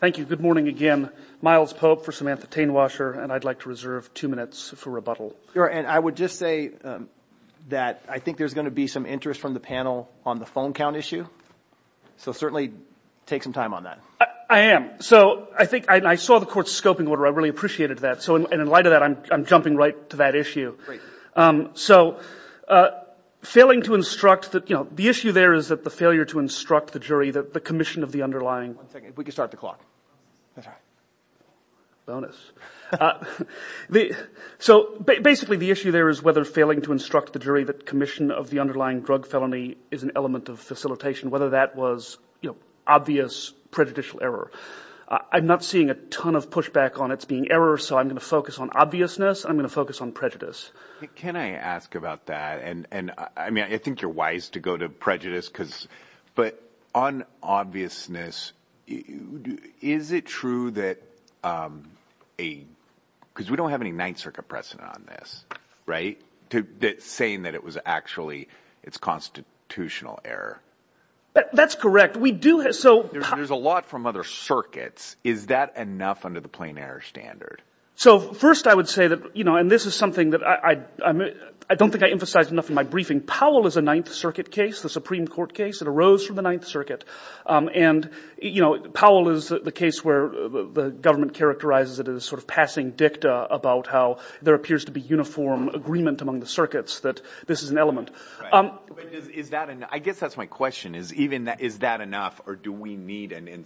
Thank you. Good morning again. Miles Pope for Samantha Tainewasher, and I'd like to reserve two minutes for rebuttal. And I would just say that I think there's going to be some interest from the panel on the phone count issue. So certainly take some time on that. I am. So I think I saw the court's scoping order. I really appreciated that. So in light of that, I'm jumping right to that issue. So failing to instruct that, you know, the issue there is that the failure to instruct the jury that the commission of the underlying One second. We can start the clock. Bonus. So basically, the issue there is whether failing to instruct the jury that commission of the underlying drug felony is an element of facilitation, whether that was, you know, obvious prejudicial error. I'm not seeing a ton of pushback on it's being error. So I'm going to focus on obviousness. I'm going to focus on prejudice. Can I ask about that? And I mean, I think you're wise to go to prejudice because but on obviousness, is it true that a because we don't have any Ninth Circuit precedent on this. Right. That saying that it was actually it's constitutional error. That's correct. We do. So there's a lot from other circuits. Is that enough under the plain error standard? So first, I would say that, you know, and this is something that I don't think I emphasize enough in my briefing. Powell is a Ninth Circuit case, the Supreme Court case that arose from the Ninth Circuit. And, you know, Powell is the case where the government characterizes it as sort of passing dicta about how there appears to be uniform agreement among the circuits that this is an element. Is that and I guess that's my question is even that. Is that enough or do we need an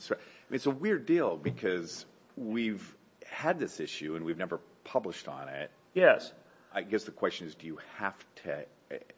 It's a weird deal because we've had this issue and we've never published on it. Yes. I guess the question is, do you have to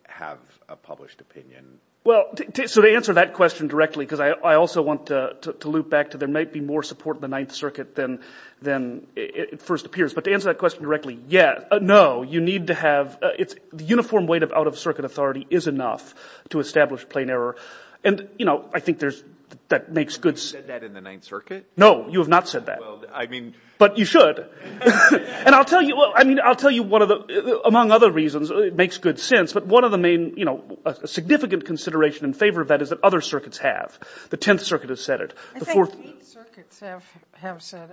have a published opinion? Well, so to answer that question directly, because I also want to loop back to there might be more support in the Ninth Circuit than than it first appears. But to answer that question directly. Yeah. No, you need to have it's the uniform weight of out-of-circuit authority is enough to establish plain error. And, you know, I think there's that makes good sense in the Ninth Circuit. No, you have not said that. Well, I mean, but you should. And I'll tell you, I mean, I'll tell you one of the among other reasons, it makes good sense. But one of the main, you know, a significant consideration in favor of that is that other circuits have the Tenth Circuit has said it before circuits have said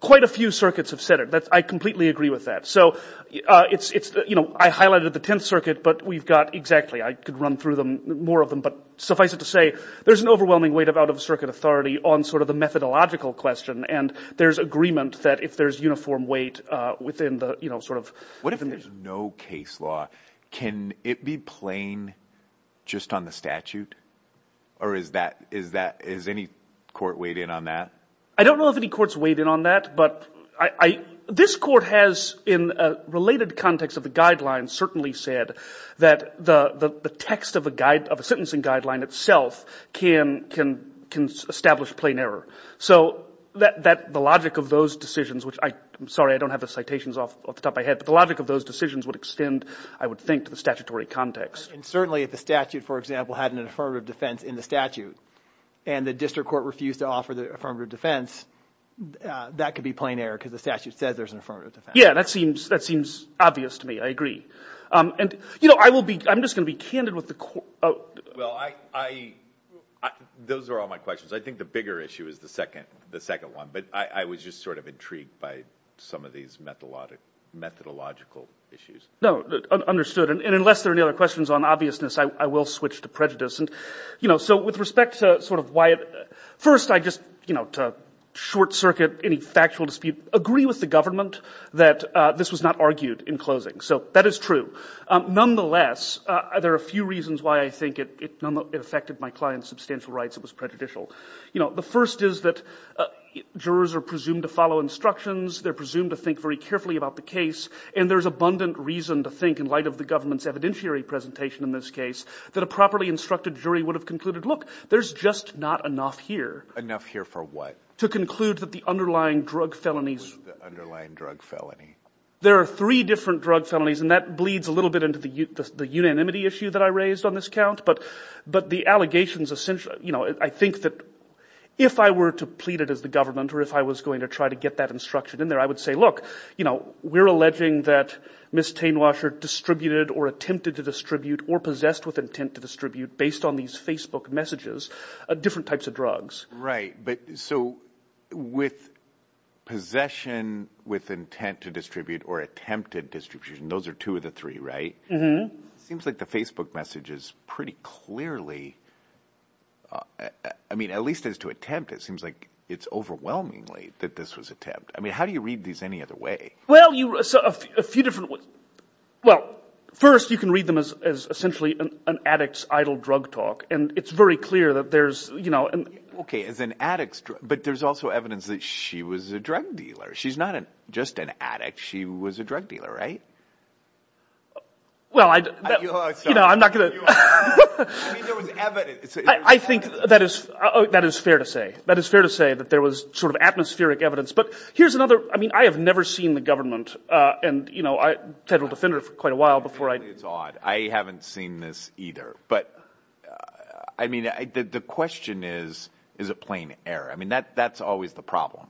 quite a few circuits have said it. That's I completely agree with that. So it's you know, I highlighted the Tenth Circuit, but we've got exactly I could run through them more of them. But suffice it to say, there's an overwhelming weight of out-of-circuit authority on sort of the methodological question. And there's agreement that if there's uniform weight within the, you know, sort of what if there's no case law, can it be plain just on the statute? Or is that is that is any court weighed in on that? I don't know if any courts weighed in on that. But I this court has in a related context of the guidelines certainly said that the text of a guide of a sentencing guideline itself can can can establish plain error. So that that the logic of those decisions, which I'm sorry, I don't have the citations off the top of my head. But the logic of those decisions would extend, I would think, to the statutory context. And certainly if the statute, for example, had an affirmative defense in the statute and the district court refused to offer the affirmative defense, that could be plain error because the statute says there's an affirmative defense. Yeah, that seems that seems obvious to me. I agree. And, you know, I will be I'm just gonna be candid with the court. Well, I, I, those are all my questions. I think the bigger issue is the second the second one. But I was just sort of intrigued by some of these methodological issues. No, understood. And unless there are any other questions on obviousness, I will switch to prejudice. And, you know, so with respect to sort of why, first, I just, you know, to court circuit, any factual dispute, agree with the government that this was not argued in closing. So that is true. Nonetheless, there are a few reasons why I think it affected my client's substantial rights. It was prejudicial. You know, the first is that jurors are presumed to follow instructions. They're presumed to think very carefully about the case. And there's abundant reason to think in light of the government's evidentiary presentation in this case that a properly instructed jury would have concluded, look, there's just not enough here. Enough here for what? To conclude that the underlying drug felonies, the underlying drug felony, there are three different drug felonies. And that bleeds a little bit into the, the unanimity issue that I raised on this count. But, but the allegations essentially, you know, I think that if I were to plead it as the government, or if I was going to try to get that instruction in there, I would say, look, you know, we're alleging that Miss Tainwasher distributed or attempted to distribute or possessed with intent to distribute based on these Facebook messages, different types of drugs. Right. But so with possession with intent to distribute or attempted distribution, those are two of the three, right? It seems like the Facebook messages pretty clearly, I mean, at least as to attempt, it seems like it's overwhelmingly that this was attempt. I mean, how do you read these any other way? Well, you saw a few different ways. Well, first you can read them as, as essentially an addict's idle drug talk. And it's very clear that there's, you know, and okay, as an addicts, but there's also evidence that she was a drug dealer. She's not just an addict. She was a drug dealer, right? Well, I, you know, I'm not going to, I think that is, that is fair to say, that is fair to say that there was sort of atmospheric evidence, but here's another, I mean, I have never seen the government and you know, I federal defender for quite a while before I haven't seen this either, but I mean, I did, the question is, is it plain error? I mean, that, that's always the problem,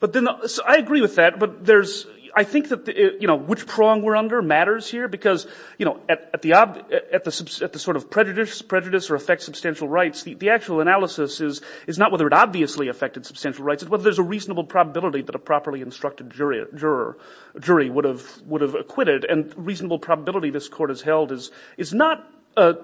but then I agree with that, but there's, I think that, you know, which prong we're under matters here because, you know, at, at the, at the, at the sort of prejudice prejudice or affect substantial rights, the actual analysis is, is not whether it obviously affected substantial rights and whether there's a reasonable probability that a properly instructed jury, juror, jury would have, would have acquitted and reasonable probability this court has held is, is not a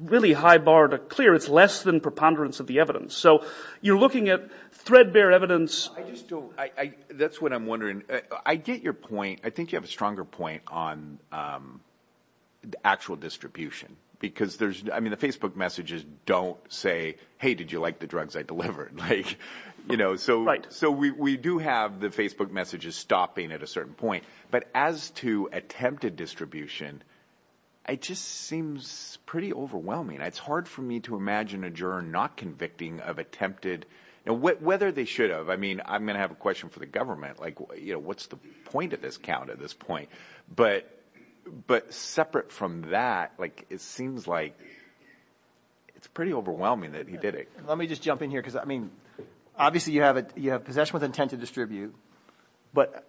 really high bar to clear. It's less than preponderance of the evidence. So you're looking at threadbare evidence. I just don't, I, that's what I'm wondering. I get your point. I think you have a stronger point on the actual distribution because there's, I mean, the Facebook messages don't say, hey, did you like the drugs I delivered? Like, you know, so, so we, we do have the Facebook messages stopping at a certain point, but as to attempted distribution, I just seems pretty overwhelming. It's hard for me to imagine a juror not convicting of attempted and whether they should have, I mean, I'm going to have a question for the government, like, you know, what's the point of this count at this point, but, but separate from that, like, it seems like it's pretty overwhelming that he did it. Let me just jump in here. Cause I mean, obviously you have a, you have possession with intent to distribute, but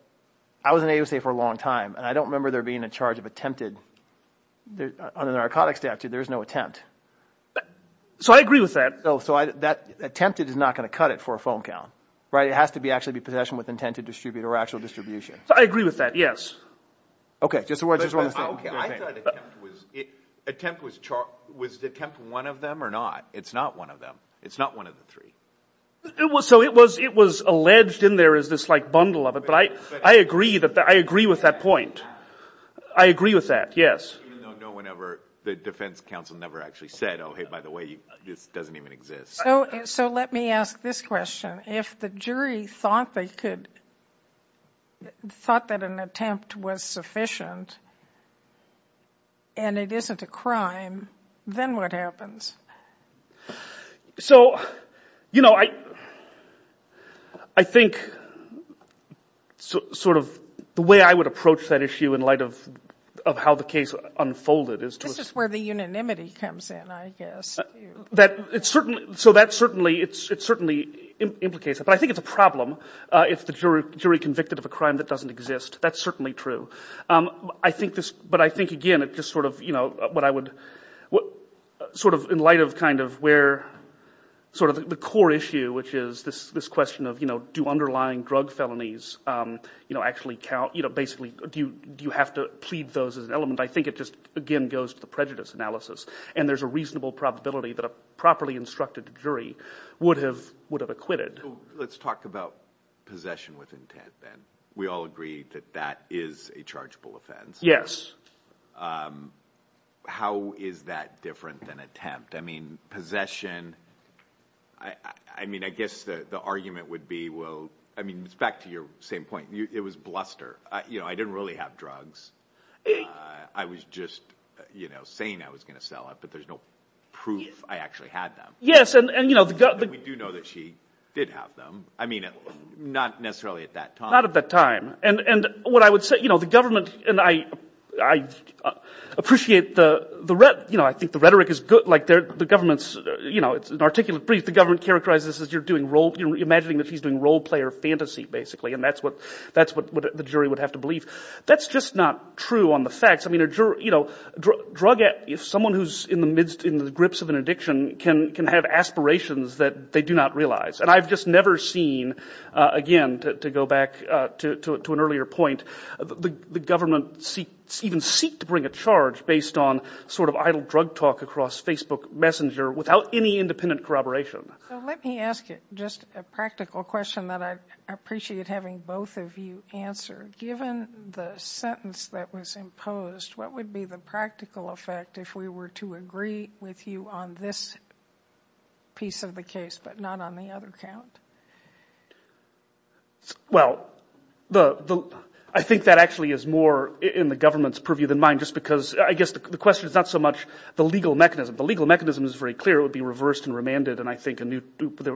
I was in AUSA for a long time and I don't remember there being a charge of attempted on the narcotics statute. There's no attempt. So I agree with that. Oh, so I, that attempted is not going to cut it for a phone count, right? It has to be actually be possession with intent to distribute or actual distribution. I agree with that. Yes. Okay. Just, just one more thing. Okay. I thought attempt was, attempt was charged, was attempt one of them or not? It's not one of them. It's not one of the three. It was, so it was, it was alleged in there is this like bundle of it, but I, I agree that I agree with that point. I agree with that. Yes. Even though no one ever, the defense counsel never actually said, Oh, Hey, by the way, this doesn't even exist. So, so let me ask this question. If the jury thought they could, thought that an attempt was sufficient and it isn't a crime, then what happens? So, you know, I, I think so sort of the way I would approach that issue in light of, of how the case unfolded is to where the unanimity comes in, I guess that it's certain. So that's certainly, it's, it's certainly implicated, but I think it's a problem if the jury jury convicted of a crime that doesn't exist, that's certainly true. I think this, but I think again, it just sort of, you know what I would, what sort of in light of kind of where sort of the core issue, which is this, this question of, you know, do underlying drug felonies, you know, actually count, you know, basically do you, do you have to plead those as an element? I think it just, again, goes to the prejudice analysis and there's a reasonable probability that a properly instructed jury would have, would have acquitted. Let's talk about possession with intent. Then we all agree that that is a chargeable offense. Yes. How is that different than attempt? I mean, possession, I mean, I guess the, the argument would be, well, I mean, it's back to your same point. It was bluster. You know, I didn't really have drugs. I was just, you know, saying I was going to sell it, but there's no proof I actually had them. Yes. And, and, you know, We do know that she did have them. I mean, not necessarily at that time. Not at that time. And, and what I would say, you know, the government and I, I appreciate the, the, you know, I think the rhetoric is good. Like they're, the government's, you know, it's an articulate brief. The government characterizes this as you're doing role, imagining that she's doing role player fantasy, basically. And that's what, that's what the jury would have to believe. That's just not true on the facts. I mean, a juror, you know, drug, if someone who's in the midst, in the grips of an addiction can, can have aspirations that they do not realize. And I've just never seen, again, to, to go back to, to, to an earlier point, the, the government seek, even seek to bring a charge based on sort of idle drug talk across Facebook Messenger without any independent corroboration. So let me ask you just a practical question that I appreciate having both of you answer. Given the sentence that was imposed, what would be the practical effect if we were to agree with you on this piece of the case, but not on the other count? Well, the, the, I think that actually is more in the government's purview than mine, just because I guess the question is not so much the legal mechanism. The legal mechanism is very clear. It would be reversed and remanded. And I think a new,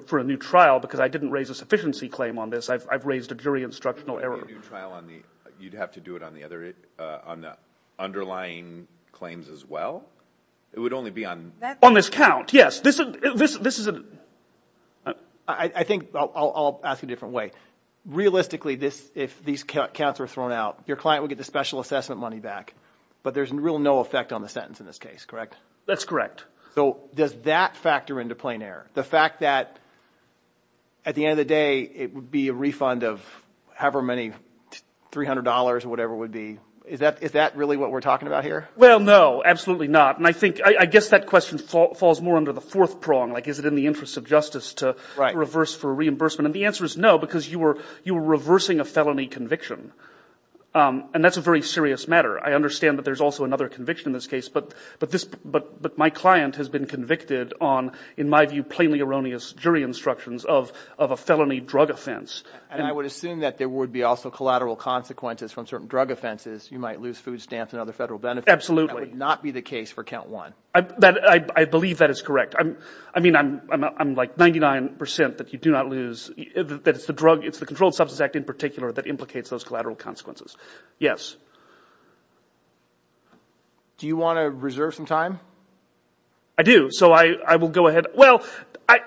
for a new trial, because I didn't raise a sufficiency claim on this. I've, I've raised a jury instructional error. A new trial on the, you'd have to do it on the other, uh, on the underlying claims as well. It would only be on, on this count. Yes. This, this, this is a, I think I'll, I'll ask a different way. Realistically, this, if these counts are thrown out, your client would get the special assessment money back, but there's real no effect on the sentence in this case, correct? That's correct. So does that factor into plain error? The fact that at the end of the day, it would be a refund of however many $300 or whatever would be, is that, is that really what we're talking about here? Well, no, absolutely not. And I think, I guess that question falls more under the fourth prong. Like, is it in the interest of justice to reverse for reimbursement? And the answer is no, because you were, you were reversing a felony conviction. Um, and that's a very serious matter. I understand that there's also another conviction in this case, but, but this, but, but my client has been convicted on, in my view, plainly erroneous jury instructions of, of a felony drug offense. And I would assume that there would be also collateral consequences from certain drug offenses. You might lose food stamps and other federal benefits. Absolutely. That would not be the case for count one. I believe that is correct. I'm, I mean, I'm, I'm, I'm like 99% that you do not lose, that it's the drug, it's the controlled substance act in particular that implicates those collateral consequences. Yes. Do you want to reserve some time? I do. So I will go ahead. Well,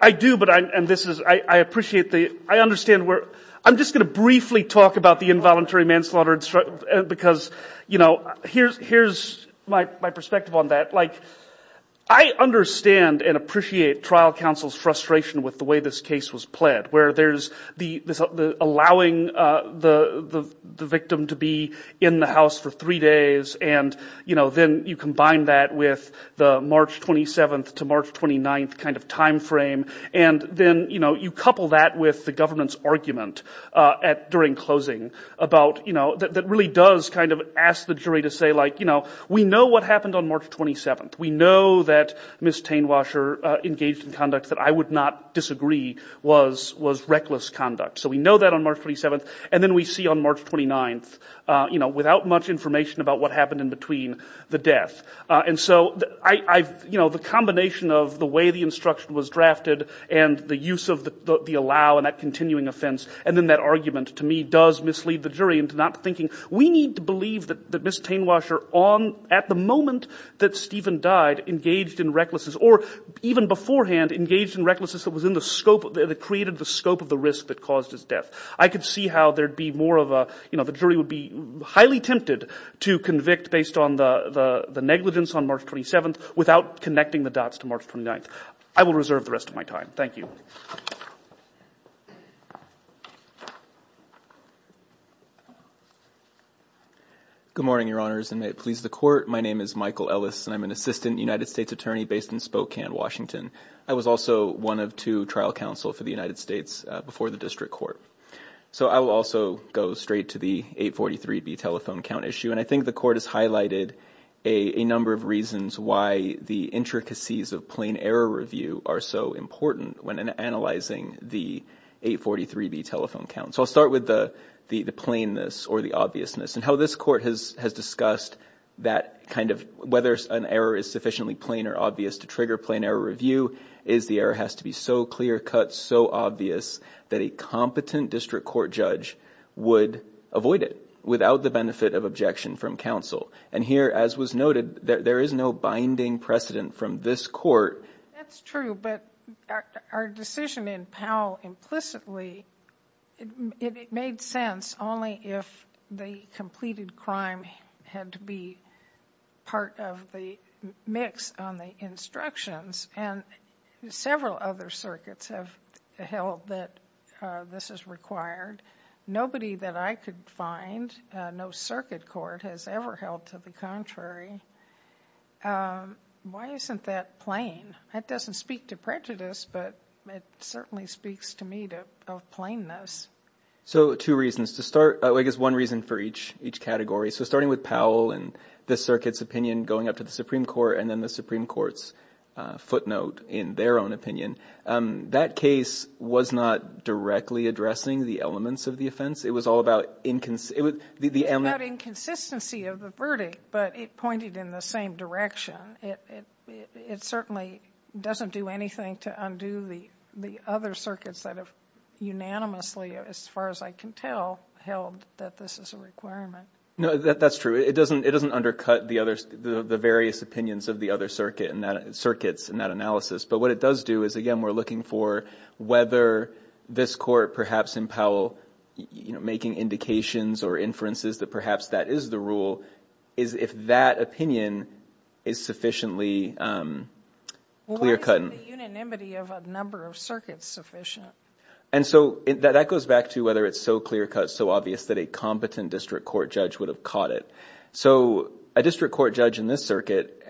I do, but I, and this is, I appreciate the, I understand where, I'm just going to briefly talk about the involuntary manslaughter because, you know, here's, here's my, my perspective on that. Like I understand and appreciate trial counsel's frustration with the way this case was pled, where there's the, the allowing the, the, the victim to be in the house for three days. And, you know, then you combine that with the March 27th to March 29th kind of timeframe. And then, you know, you couple that with the government's argument at, during closing about, you know, that, that really does kind of ask the jury to say like, you know, we know what happened on March 27th. We know that Ms. Tanewasher engaged in conduct that I would not disagree was, was reckless conduct. So we know that on March 27th and then we see on March 29th, you know, without much information about what happened in between the death. And so I, I've, you know, the combination of the way the instruction was drafted and the use of the, the allow and that continuing offense. And then that argument to me does mislead the jury into not thinking we need to believe that, that Ms. Tanewasher on, at the moment that Stephen died engaged in recklessness or even beforehand engaged in recklessness that was in the scope of the, that created the scope of the risk that caused his death. I could see how there'd be more of a, you know, the jury would be highly tempted to convict based on the, the, the negligence on March 27th without connecting the dots to March 29th. I will reserve the rest of my time. Thank you. Good morning, your honors. And may it please the court. My name is Michael Ellis and I'm an assistant United States attorney based in Spokane, Washington. I was also one of two trial counsel for the United States before the district court. So I will also go straight to the 843B telephone count issue. And I think the court has highlighted a number of reasons why the intricacies of plain error review are so important when analyzing the 843B telephone count. So I'll start with the, the, the plainness or the obviousness and how this court has, has discussed that kind of whether an error is sufficiently plain or obvious to trigger plain error review is the error has to be so clear cut, so obvious that a competent district court judge would avoid it without the benefit of objection from counsel. And here, as was noted, there is no binding precedent from this court. That's true, but our decision in Powell implicitly, it made sense only if the completed crime had to be part of the mix on the instructions and several other circuits have held that this is required. Nobody that I could find, no circuit court has ever held to the contrary. Why isn't that plain? That doesn't speak to prejudice, but it certainly speaks to me to plainness. So two reasons to start, I guess one reason for each, each category. So starting with Powell and the circuit's opinion going up to the Supreme Court and then the Supreme Court's a footnote in their own opinion, um, that case was not directly addressing the elements of the offense. It was all about inconsistency of the verdict, but it pointed in the same direction. It, it, it certainly doesn't do anything to undo the, the other circuits that have unanimously, as far as I can tell, held that this is a requirement. No, that, that's true. It doesn't, it doesn't undercut the other, the various opinions of the other circuit and that circuits and that analysis. But what it does do is, again, we're looking for whether this court, perhaps in Powell, you know, making indications or inferences that perhaps that is the rule is if that opinion is sufficiently, um, clear cut and the unanimity of a number of circuits sufficient. And so that goes back to whether it's so clear cut, so obvious that a competent district court judge would have caught it. So a district court judge in this circuit,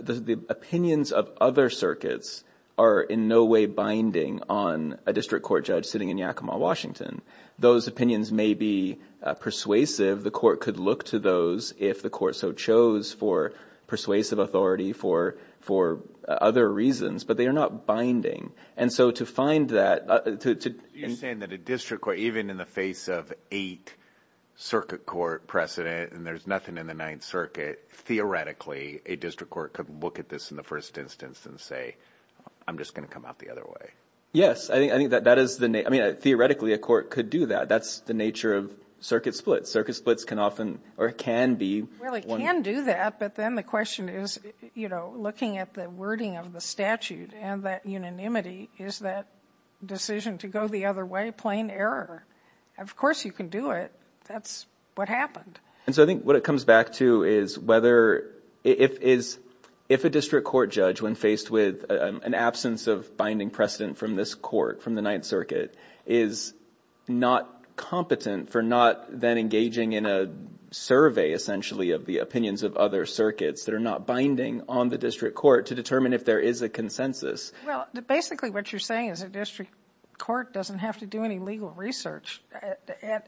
the opinions of other circuits are in no way binding on a district court judge sitting in Yakima, Washington. Those opinions may be persuasive. The court could look to those if the court so chose for persuasive authority for, for other reasons, but they are not binding. And so to find that, uh, to, to, you're saying that a district court, even in the face of eight circuit court precedent and there's nothing in the Ninth Circuit, theoretically, a district court could look at this in the first instance and say, I'm just going to come out the other way. Yes. I think that that is the name. I mean, theoretically, a court could do that. That's the nature of circuit splits. Circuit splits can often, or it can be. Well, it can do that. But then the question is, you know, looking at the wording of the statute and that unanimity, is that decision to go the other way, plain error? Of course you can do it. That's what happened. And so I think what it comes back to is whether, if, is, if a district court judge, when faced with an absence of binding precedent from this court, from the Ninth Circuit, is not competent for not then engaging in a survey, essentially, of the opinions of other circuits that are not binding on the district court to determine if there is a consensus. Well, basically what you're saying is a district court doesn't have to do any legal research.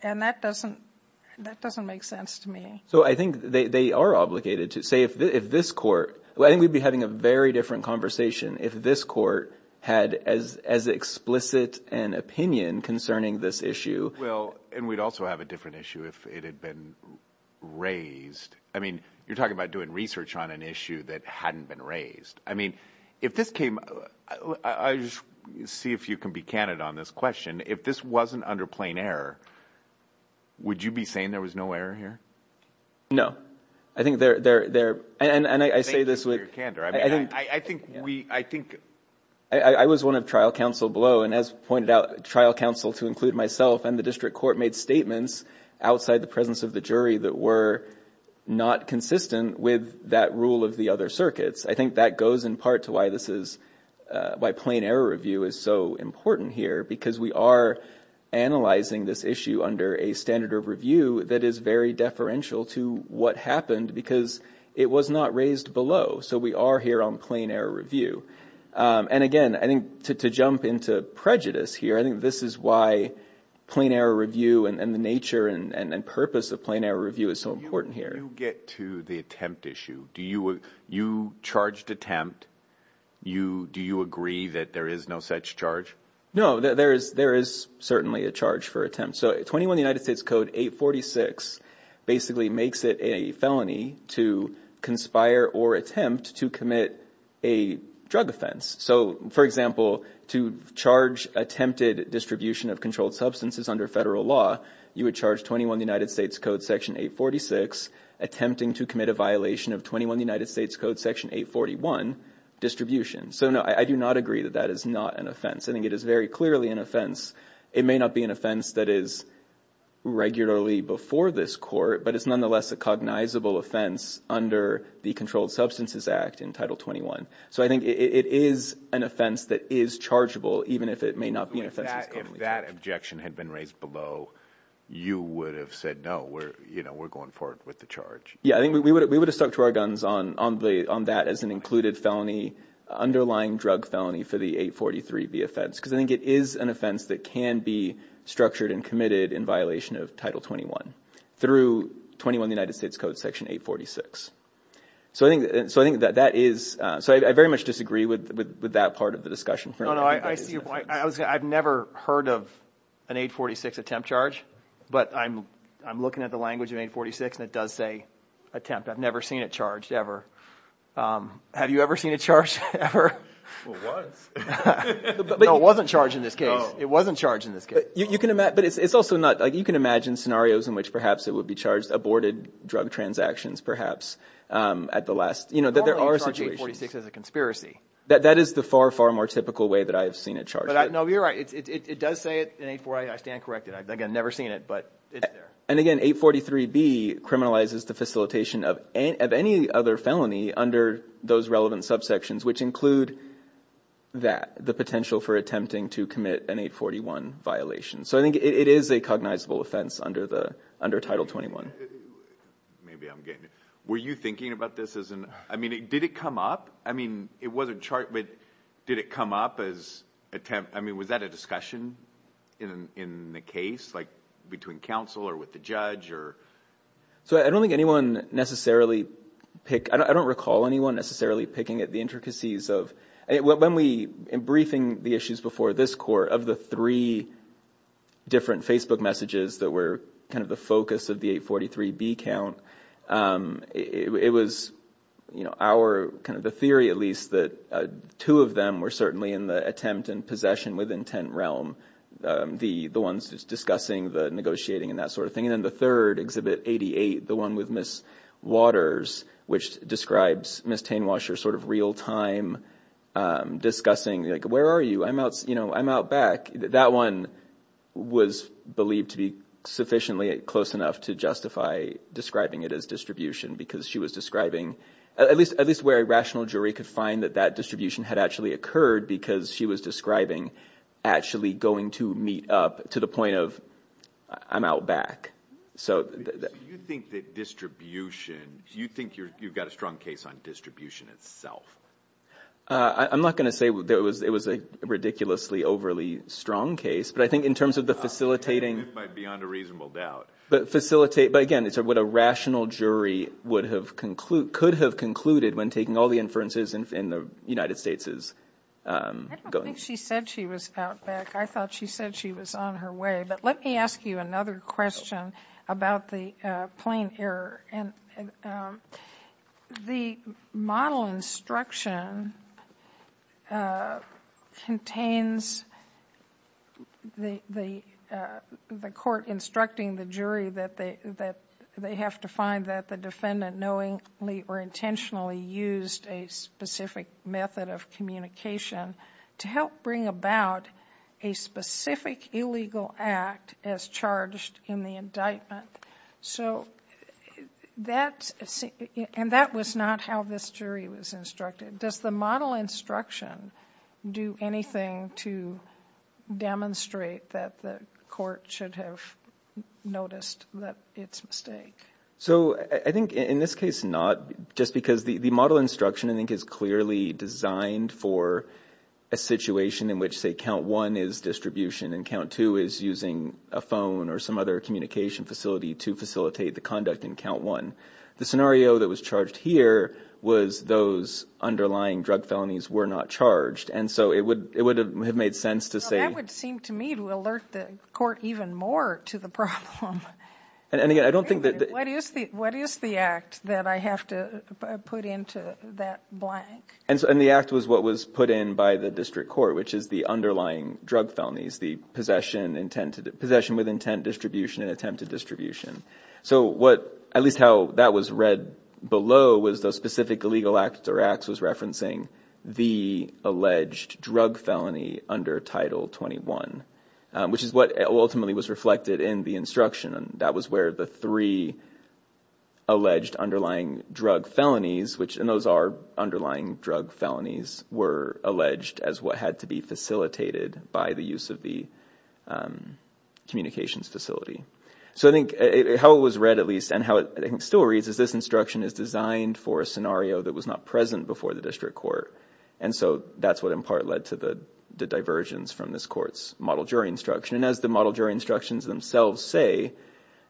And that doesn't, that doesn't make sense to me. So I think they are obligated to say, if this court, well, I think we'd be having a very different conversation if this court had as, as explicit an opinion concerning this issue. Well, and we'd also have a different issue if it had been raised. I mean, you're talking about doing research on an issue that hadn't been raised. I mean, if this came, I just see if you can be candid on this question. If this wasn't under plain error, would you be saying there was no error here? No. I think there, there, there, and I say this with, I think we, I think, I was one of trial counsel below and as pointed out, trial counsel to include myself and the district court made statements outside the presence of the jury that were not consistent with that rule of the other circuits. I think that goes in part to why this is, by plain error review is so important here because we are analyzing this issue under a standard of review that is very deferential to what happened because it was not raised below. So we are here on plain error review. And again, I think to, to jump into prejudice here, I think this is why plain error review and the nature and purpose of plain error review is so important here. When you get to the attempt issue, do you, you charged attempt, you, do you agree that there is no such charge? No, there is, there is certainly a charge for attempt. So 21 United States code 846 basically makes it a felony to conspire or attempt to commit a drug offense. So for example, to charge attempted distribution of controlled substances under federal law, you would charge 21 United States code section 846, attempting to commit a violation of 21 United States code section 841 distribution. So no, I do not agree that that is not an offense. I think it is very clearly an offense. It may not be an offense that is regularly before this court, but it's nonetheless a cognizable offense under the controlled substances act in title 21. So I think it is an offense that is chargeable, even if it may not be an offense. If that objection had been raised below, you would have said, no, we're, you know, we're going forward with the charge. Yeah, I think we would, we would have stuck to our guns on, on the, on that as an included felony underlying drug felony for the 843B offense. Cause I think it is an offense that can be structured and committed in violation of title 21 through 21 United States code section 846. So I think, so I think that that is, uh, so I very much disagree with, with, with that part of the discussion. No, no, I, I see why I was, I've never heard of an 846 attempt charge, but I'm, I'm looking at the language of 846 and it does say attempt. I've never seen it charged ever. Um, have you ever seen a charge ever? It was. No, it wasn't charged in this case. It wasn't charged in this case. You can imagine, but it's, it's also not like you can imagine scenarios in which perhaps it would be charged aborted drug transactions perhaps. Um, at the last, you know, that there are situations Normally you charge 846 as a conspiracy. That is the far, far more typical way that I've seen it charged. But I know you're right. It's, it, it does say it in 848. I stand corrected. I've again, never seen it, but it's there. And again, 843B criminalizes the facilitation of any, of any other felony under those relevant subsections, which include that the potential for attempting to commit an 841 violation. So I think it is a cognizable offense under the, under title 21. Maybe I'm getting, were you thinking about this as an, I mean, did it come up? I mean, it was a chart, but did it come up as attempt? I mean, was that a discussion in, in the case like between counsel or with the judge or? So I don't think anyone necessarily pick, I don't, I don't recall anyone necessarily picking at the intricacies of, when we, in briefing the issues before this court of the three different Facebook messages that were kind of the focus of the 843B count, um, it, it was, you know, our kind of the theory, at least that, uh, two of them were certainly in the attempt and possession with intent realm. Um, the, the ones just discussing the negotiating and that sort of thing. And then the third exhibit 88, the one with Ms. Waters, which describes Ms. Tainwasher sort of real time, um, discussing like, where are you? I'm out, you know, I'm out back. That one was believed to be sufficiently close enough to justify describing it as distribution because she was describing at least, at least where a rational jury could find that that distribution had actually occurred because she was describing actually going to meet up to the point of I'm out back. So you think that distribution, do you think you're, you've got a strong case on distribution itself? I'm not going to say there was, it was a ridiculously overly strong case, but I think in terms of the facilitating, but facilitate, but again, it's a, what a rational jury would have concluded, could have concluded when taking all the inferences in the United States is, um, going. I don't think she said she was out back. I thought she said she was on her way, but let me ask you another question about the plain error and, um, the model instruction, uh, contains the, the, uh, the court instructing the jury that they, that they have to find that the defendant knowingly or intentionally used a specific method of communication to help bring about a specific illegal act as charged in the indictment. So that's, and that was not how this jury was instructed. Does the model instruction do anything to demonstrate that the court should have noticed that it's mistake? So I think in this case, not just because the, the model instruction, I think is clearly designed for a situation in which say count one is distribution and count two is using a phone or some other communication facility to facilitate the conduct in count one. The scenario that was charged here was those underlying drug felonies were not charged. And so it would, it would have made sense to say. Well, that would seem to me to alert the court even more to the problem. And again, I don't think that... What is the, what is the act that I have to put into that blank? And the act was what was put in by the district court, which is the underlying drug felonies, the possession, intent to, possession with intent distribution and attempted distribution. So what, at least how that was read below was those specific illegal acts or acts was referencing the alleged drug felony under title 21, which is what ultimately was reflected in the instruction. And that was where the three alleged underlying drug felonies, which and those are underlying drug felonies were alleged as what had to be facilitated by the use of the communications facility. So I think it, how it was read at least, and how it still reads is this instruction is designed for a scenario that was not present before the district court. And so that's what in part led to the, the divergence from this court's model jury instruction. And as the model jury instructions themselves say,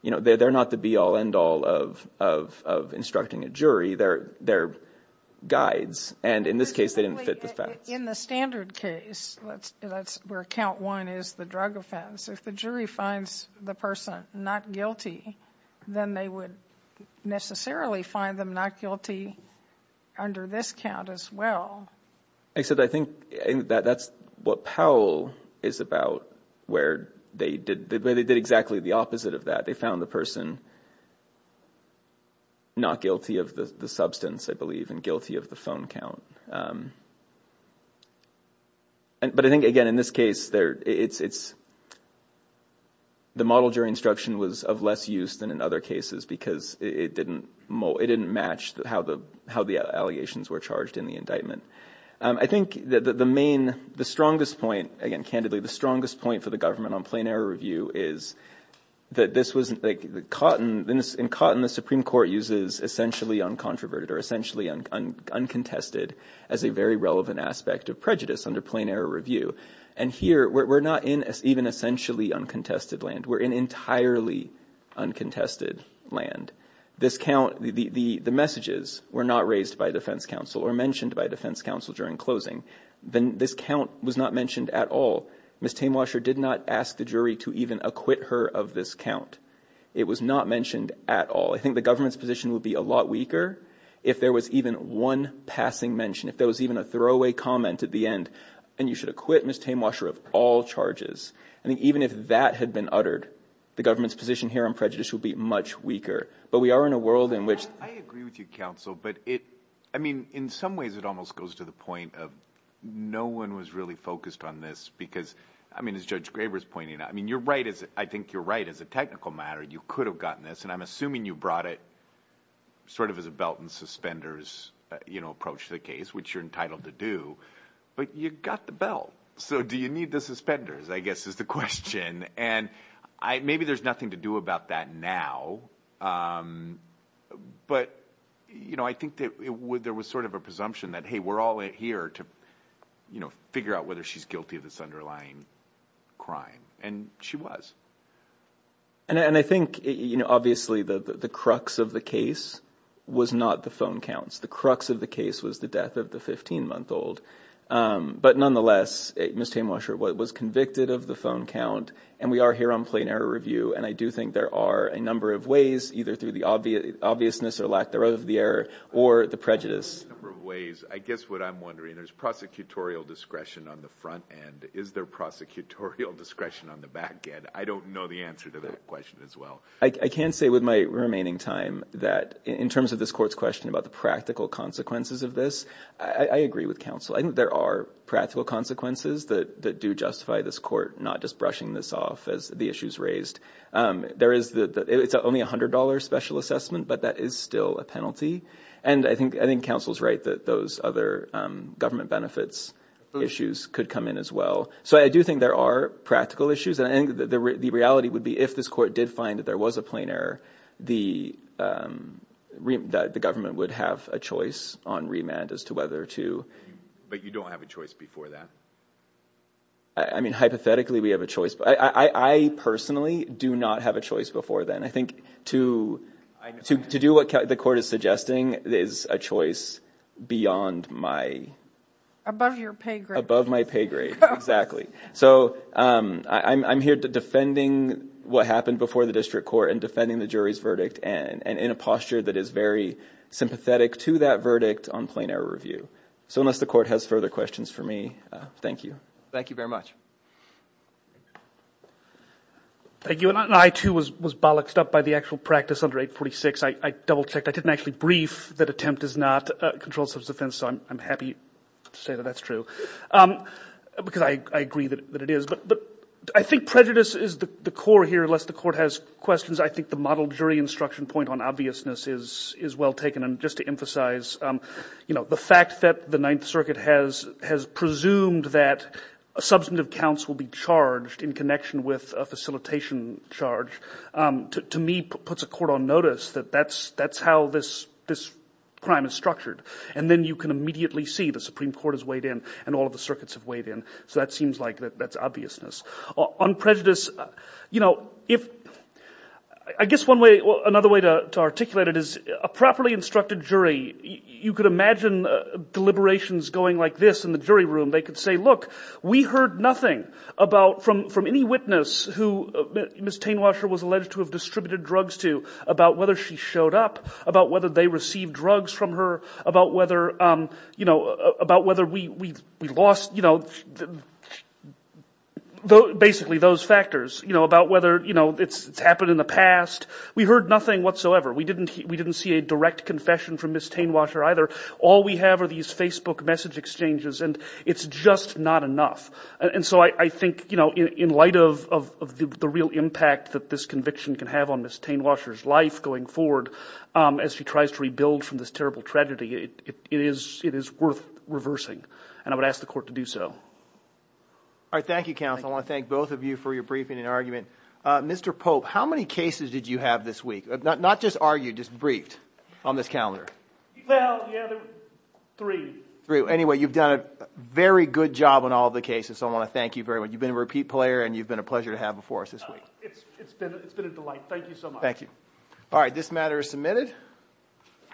you know, they're, they're not the be all end all of, of, of instructing a jury, they're, they're guides. And in this case, they didn't fit the facts. In the standard case, that's, that's where count one is the drug offense. If the jury finds the person not guilty, then they would necessarily find them not guilty under this count as well. I said, I think that that's what Powell is about, where they did, they did exactly the opposite of that. They found the person not guilty of the substance, I believe, and guilty of the phone count. But I think, again, in this case there, it's, it's, the model jury instruction was of less use than in other cases because it didn't match how the, how the allegations were charged in the indictment. I think that the main, the strongest point, again, candidly, the strongest point for the Department on Plain Error Review is that this was like the cotton, in cotton, the Supreme Court uses essentially uncontroverted or essentially uncontested as a very relevant aspect of prejudice under Plain Error Review. And here we're not in even essentially uncontested land. We're in entirely uncontested land. This count, the, the, the messages were not raised by defense counsel or mentioned by defense counsel during closing. Then this count was not mentioned at all. Ms. Tamewasher did not ask the jury to even acquit her of this count. It was not mentioned at all. I think the government's position would be a lot weaker if there was even one passing mention, if there was even a throwaway comment at the end, and you should acquit Ms. Tamewasher of all charges. I think even if that had been uttered, the government's position here on prejudice would be much weaker. But we are in a world in which... I agree with you, counsel, but it, I mean, in some ways it almost goes to the point of no one was really focused on this because, I mean, as Judge Graber's pointing out, I mean, you're right as, I think you're right as a technical matter, you could have gotten this, and I'm assuming you brought it sort of as a belt and suspenders, you know, approach to the case, which you're entitled to do, but you got the belt. So do you need the suspenders, I guess is the question. And I, maybe there's nothing to do about that now, but, you know, I think that there was sort of a presumption that, hey, we're all here to, you know, figure out whether she's guilty of this underlying crime, and she was. And I think, you know, obviously the crux of the case was not the phone counts. The crux of the case was the death of the 15-month-old. But nonetheless, Ms. Tamewasher was convicted of the phone count, and we are here on plain error review, and I do think there are a number of ways, either through the obviousness or lack thereof of the error, or the prejudice. A number of ways. I guess what I'm wondering, there's prosecutorial discretion on the front end. Is there prosecutorial discretion on the back end? I don't know the answer to that question as well. I can say with my remaining time that, in terms of this court's question about the practical consequences of this, I agree with counsel. I think there are practical consequences that do justify this court not just brushing this off, as the issues raised. It's only a $100 special assessment, but that is still a penalty. And I think counsel's right that those other government benefits issues could come in as well. So I do think there are practical issues, and I think the reality would be if this court did find that there was a plain error, the government would have a choice on remand as to whether to... But you don't have a choice before that? I mean, hypothetically, we have a choice. I personally do not have a choice before then. I think to do what the court is suggesting is a choice beyond my... Above your pay grade. Above my pay grade, exactly. So I'm here defending what happened before the district court, and defending the jury's verdict, and in a posture that is very sympathetic to that verdict on plain error review. So unless the court has further questions for me, thank you. Thank you very much. Thank you. And I, too, was bollocked up by the actual practice under 846. I double-checked. I didn't actually brief that attempt is not a controlled substance offense, so I'm happy to say that that's true. Because I agree that it is. But I think prejudice is the core here. Unless the court has questions, I think the model jury instruction point on obviousness is well taken. And just to emphasize, you know, the fact that the Ninth Circuit has presumed that substantive counts will be charged in connection with a facilitation charge, to me, puts a court on notice that that's how this crime is structured. And then you can immediately see the Supreme Court has weighed in and all of the circuits have weighed in. So that seems like that's obviousness. On prejudice, you know, if... I guess one way... Another way to articulate it is a properly instructed jury. You could imagine deliberations going like this in the jury room. They could say, look, we heard nothing about, from any witness who Ms. Tainwasher was alleged to have distributed drugs to, about whether she showed up, about whether they received drugs from her, about whether, you know, about whether we lost, you know, basically those factors, you know, about whether, you know, it's happened in the past. We heard nothing whatsoever. We didn't see a direct confession from Ms. Tainwasher either. All we have are these Facebook message exchanges and it's just not enough. And so I think, you know, in light of the real impact that this conviction can have on Ms. Tainwasher's life going forward as she tries to rebuild from this terrible tragedy, it is worth reversing. And I would ask the court to do so. All right. Thank you, counsel. I want to thank both of you for your briefing and argument. Mr. Pope, how many cases did you have this week? Not just argued, just briefed on this calendar? Well, yeah, three. Three. Anyway, you've done a very good job on all the cases. So I want to thank you very much. You've been a repeat player and you've been a pleasure to have before us this week. It's been a delight. Thank you so much. Thank you. All right. This matter is submitted.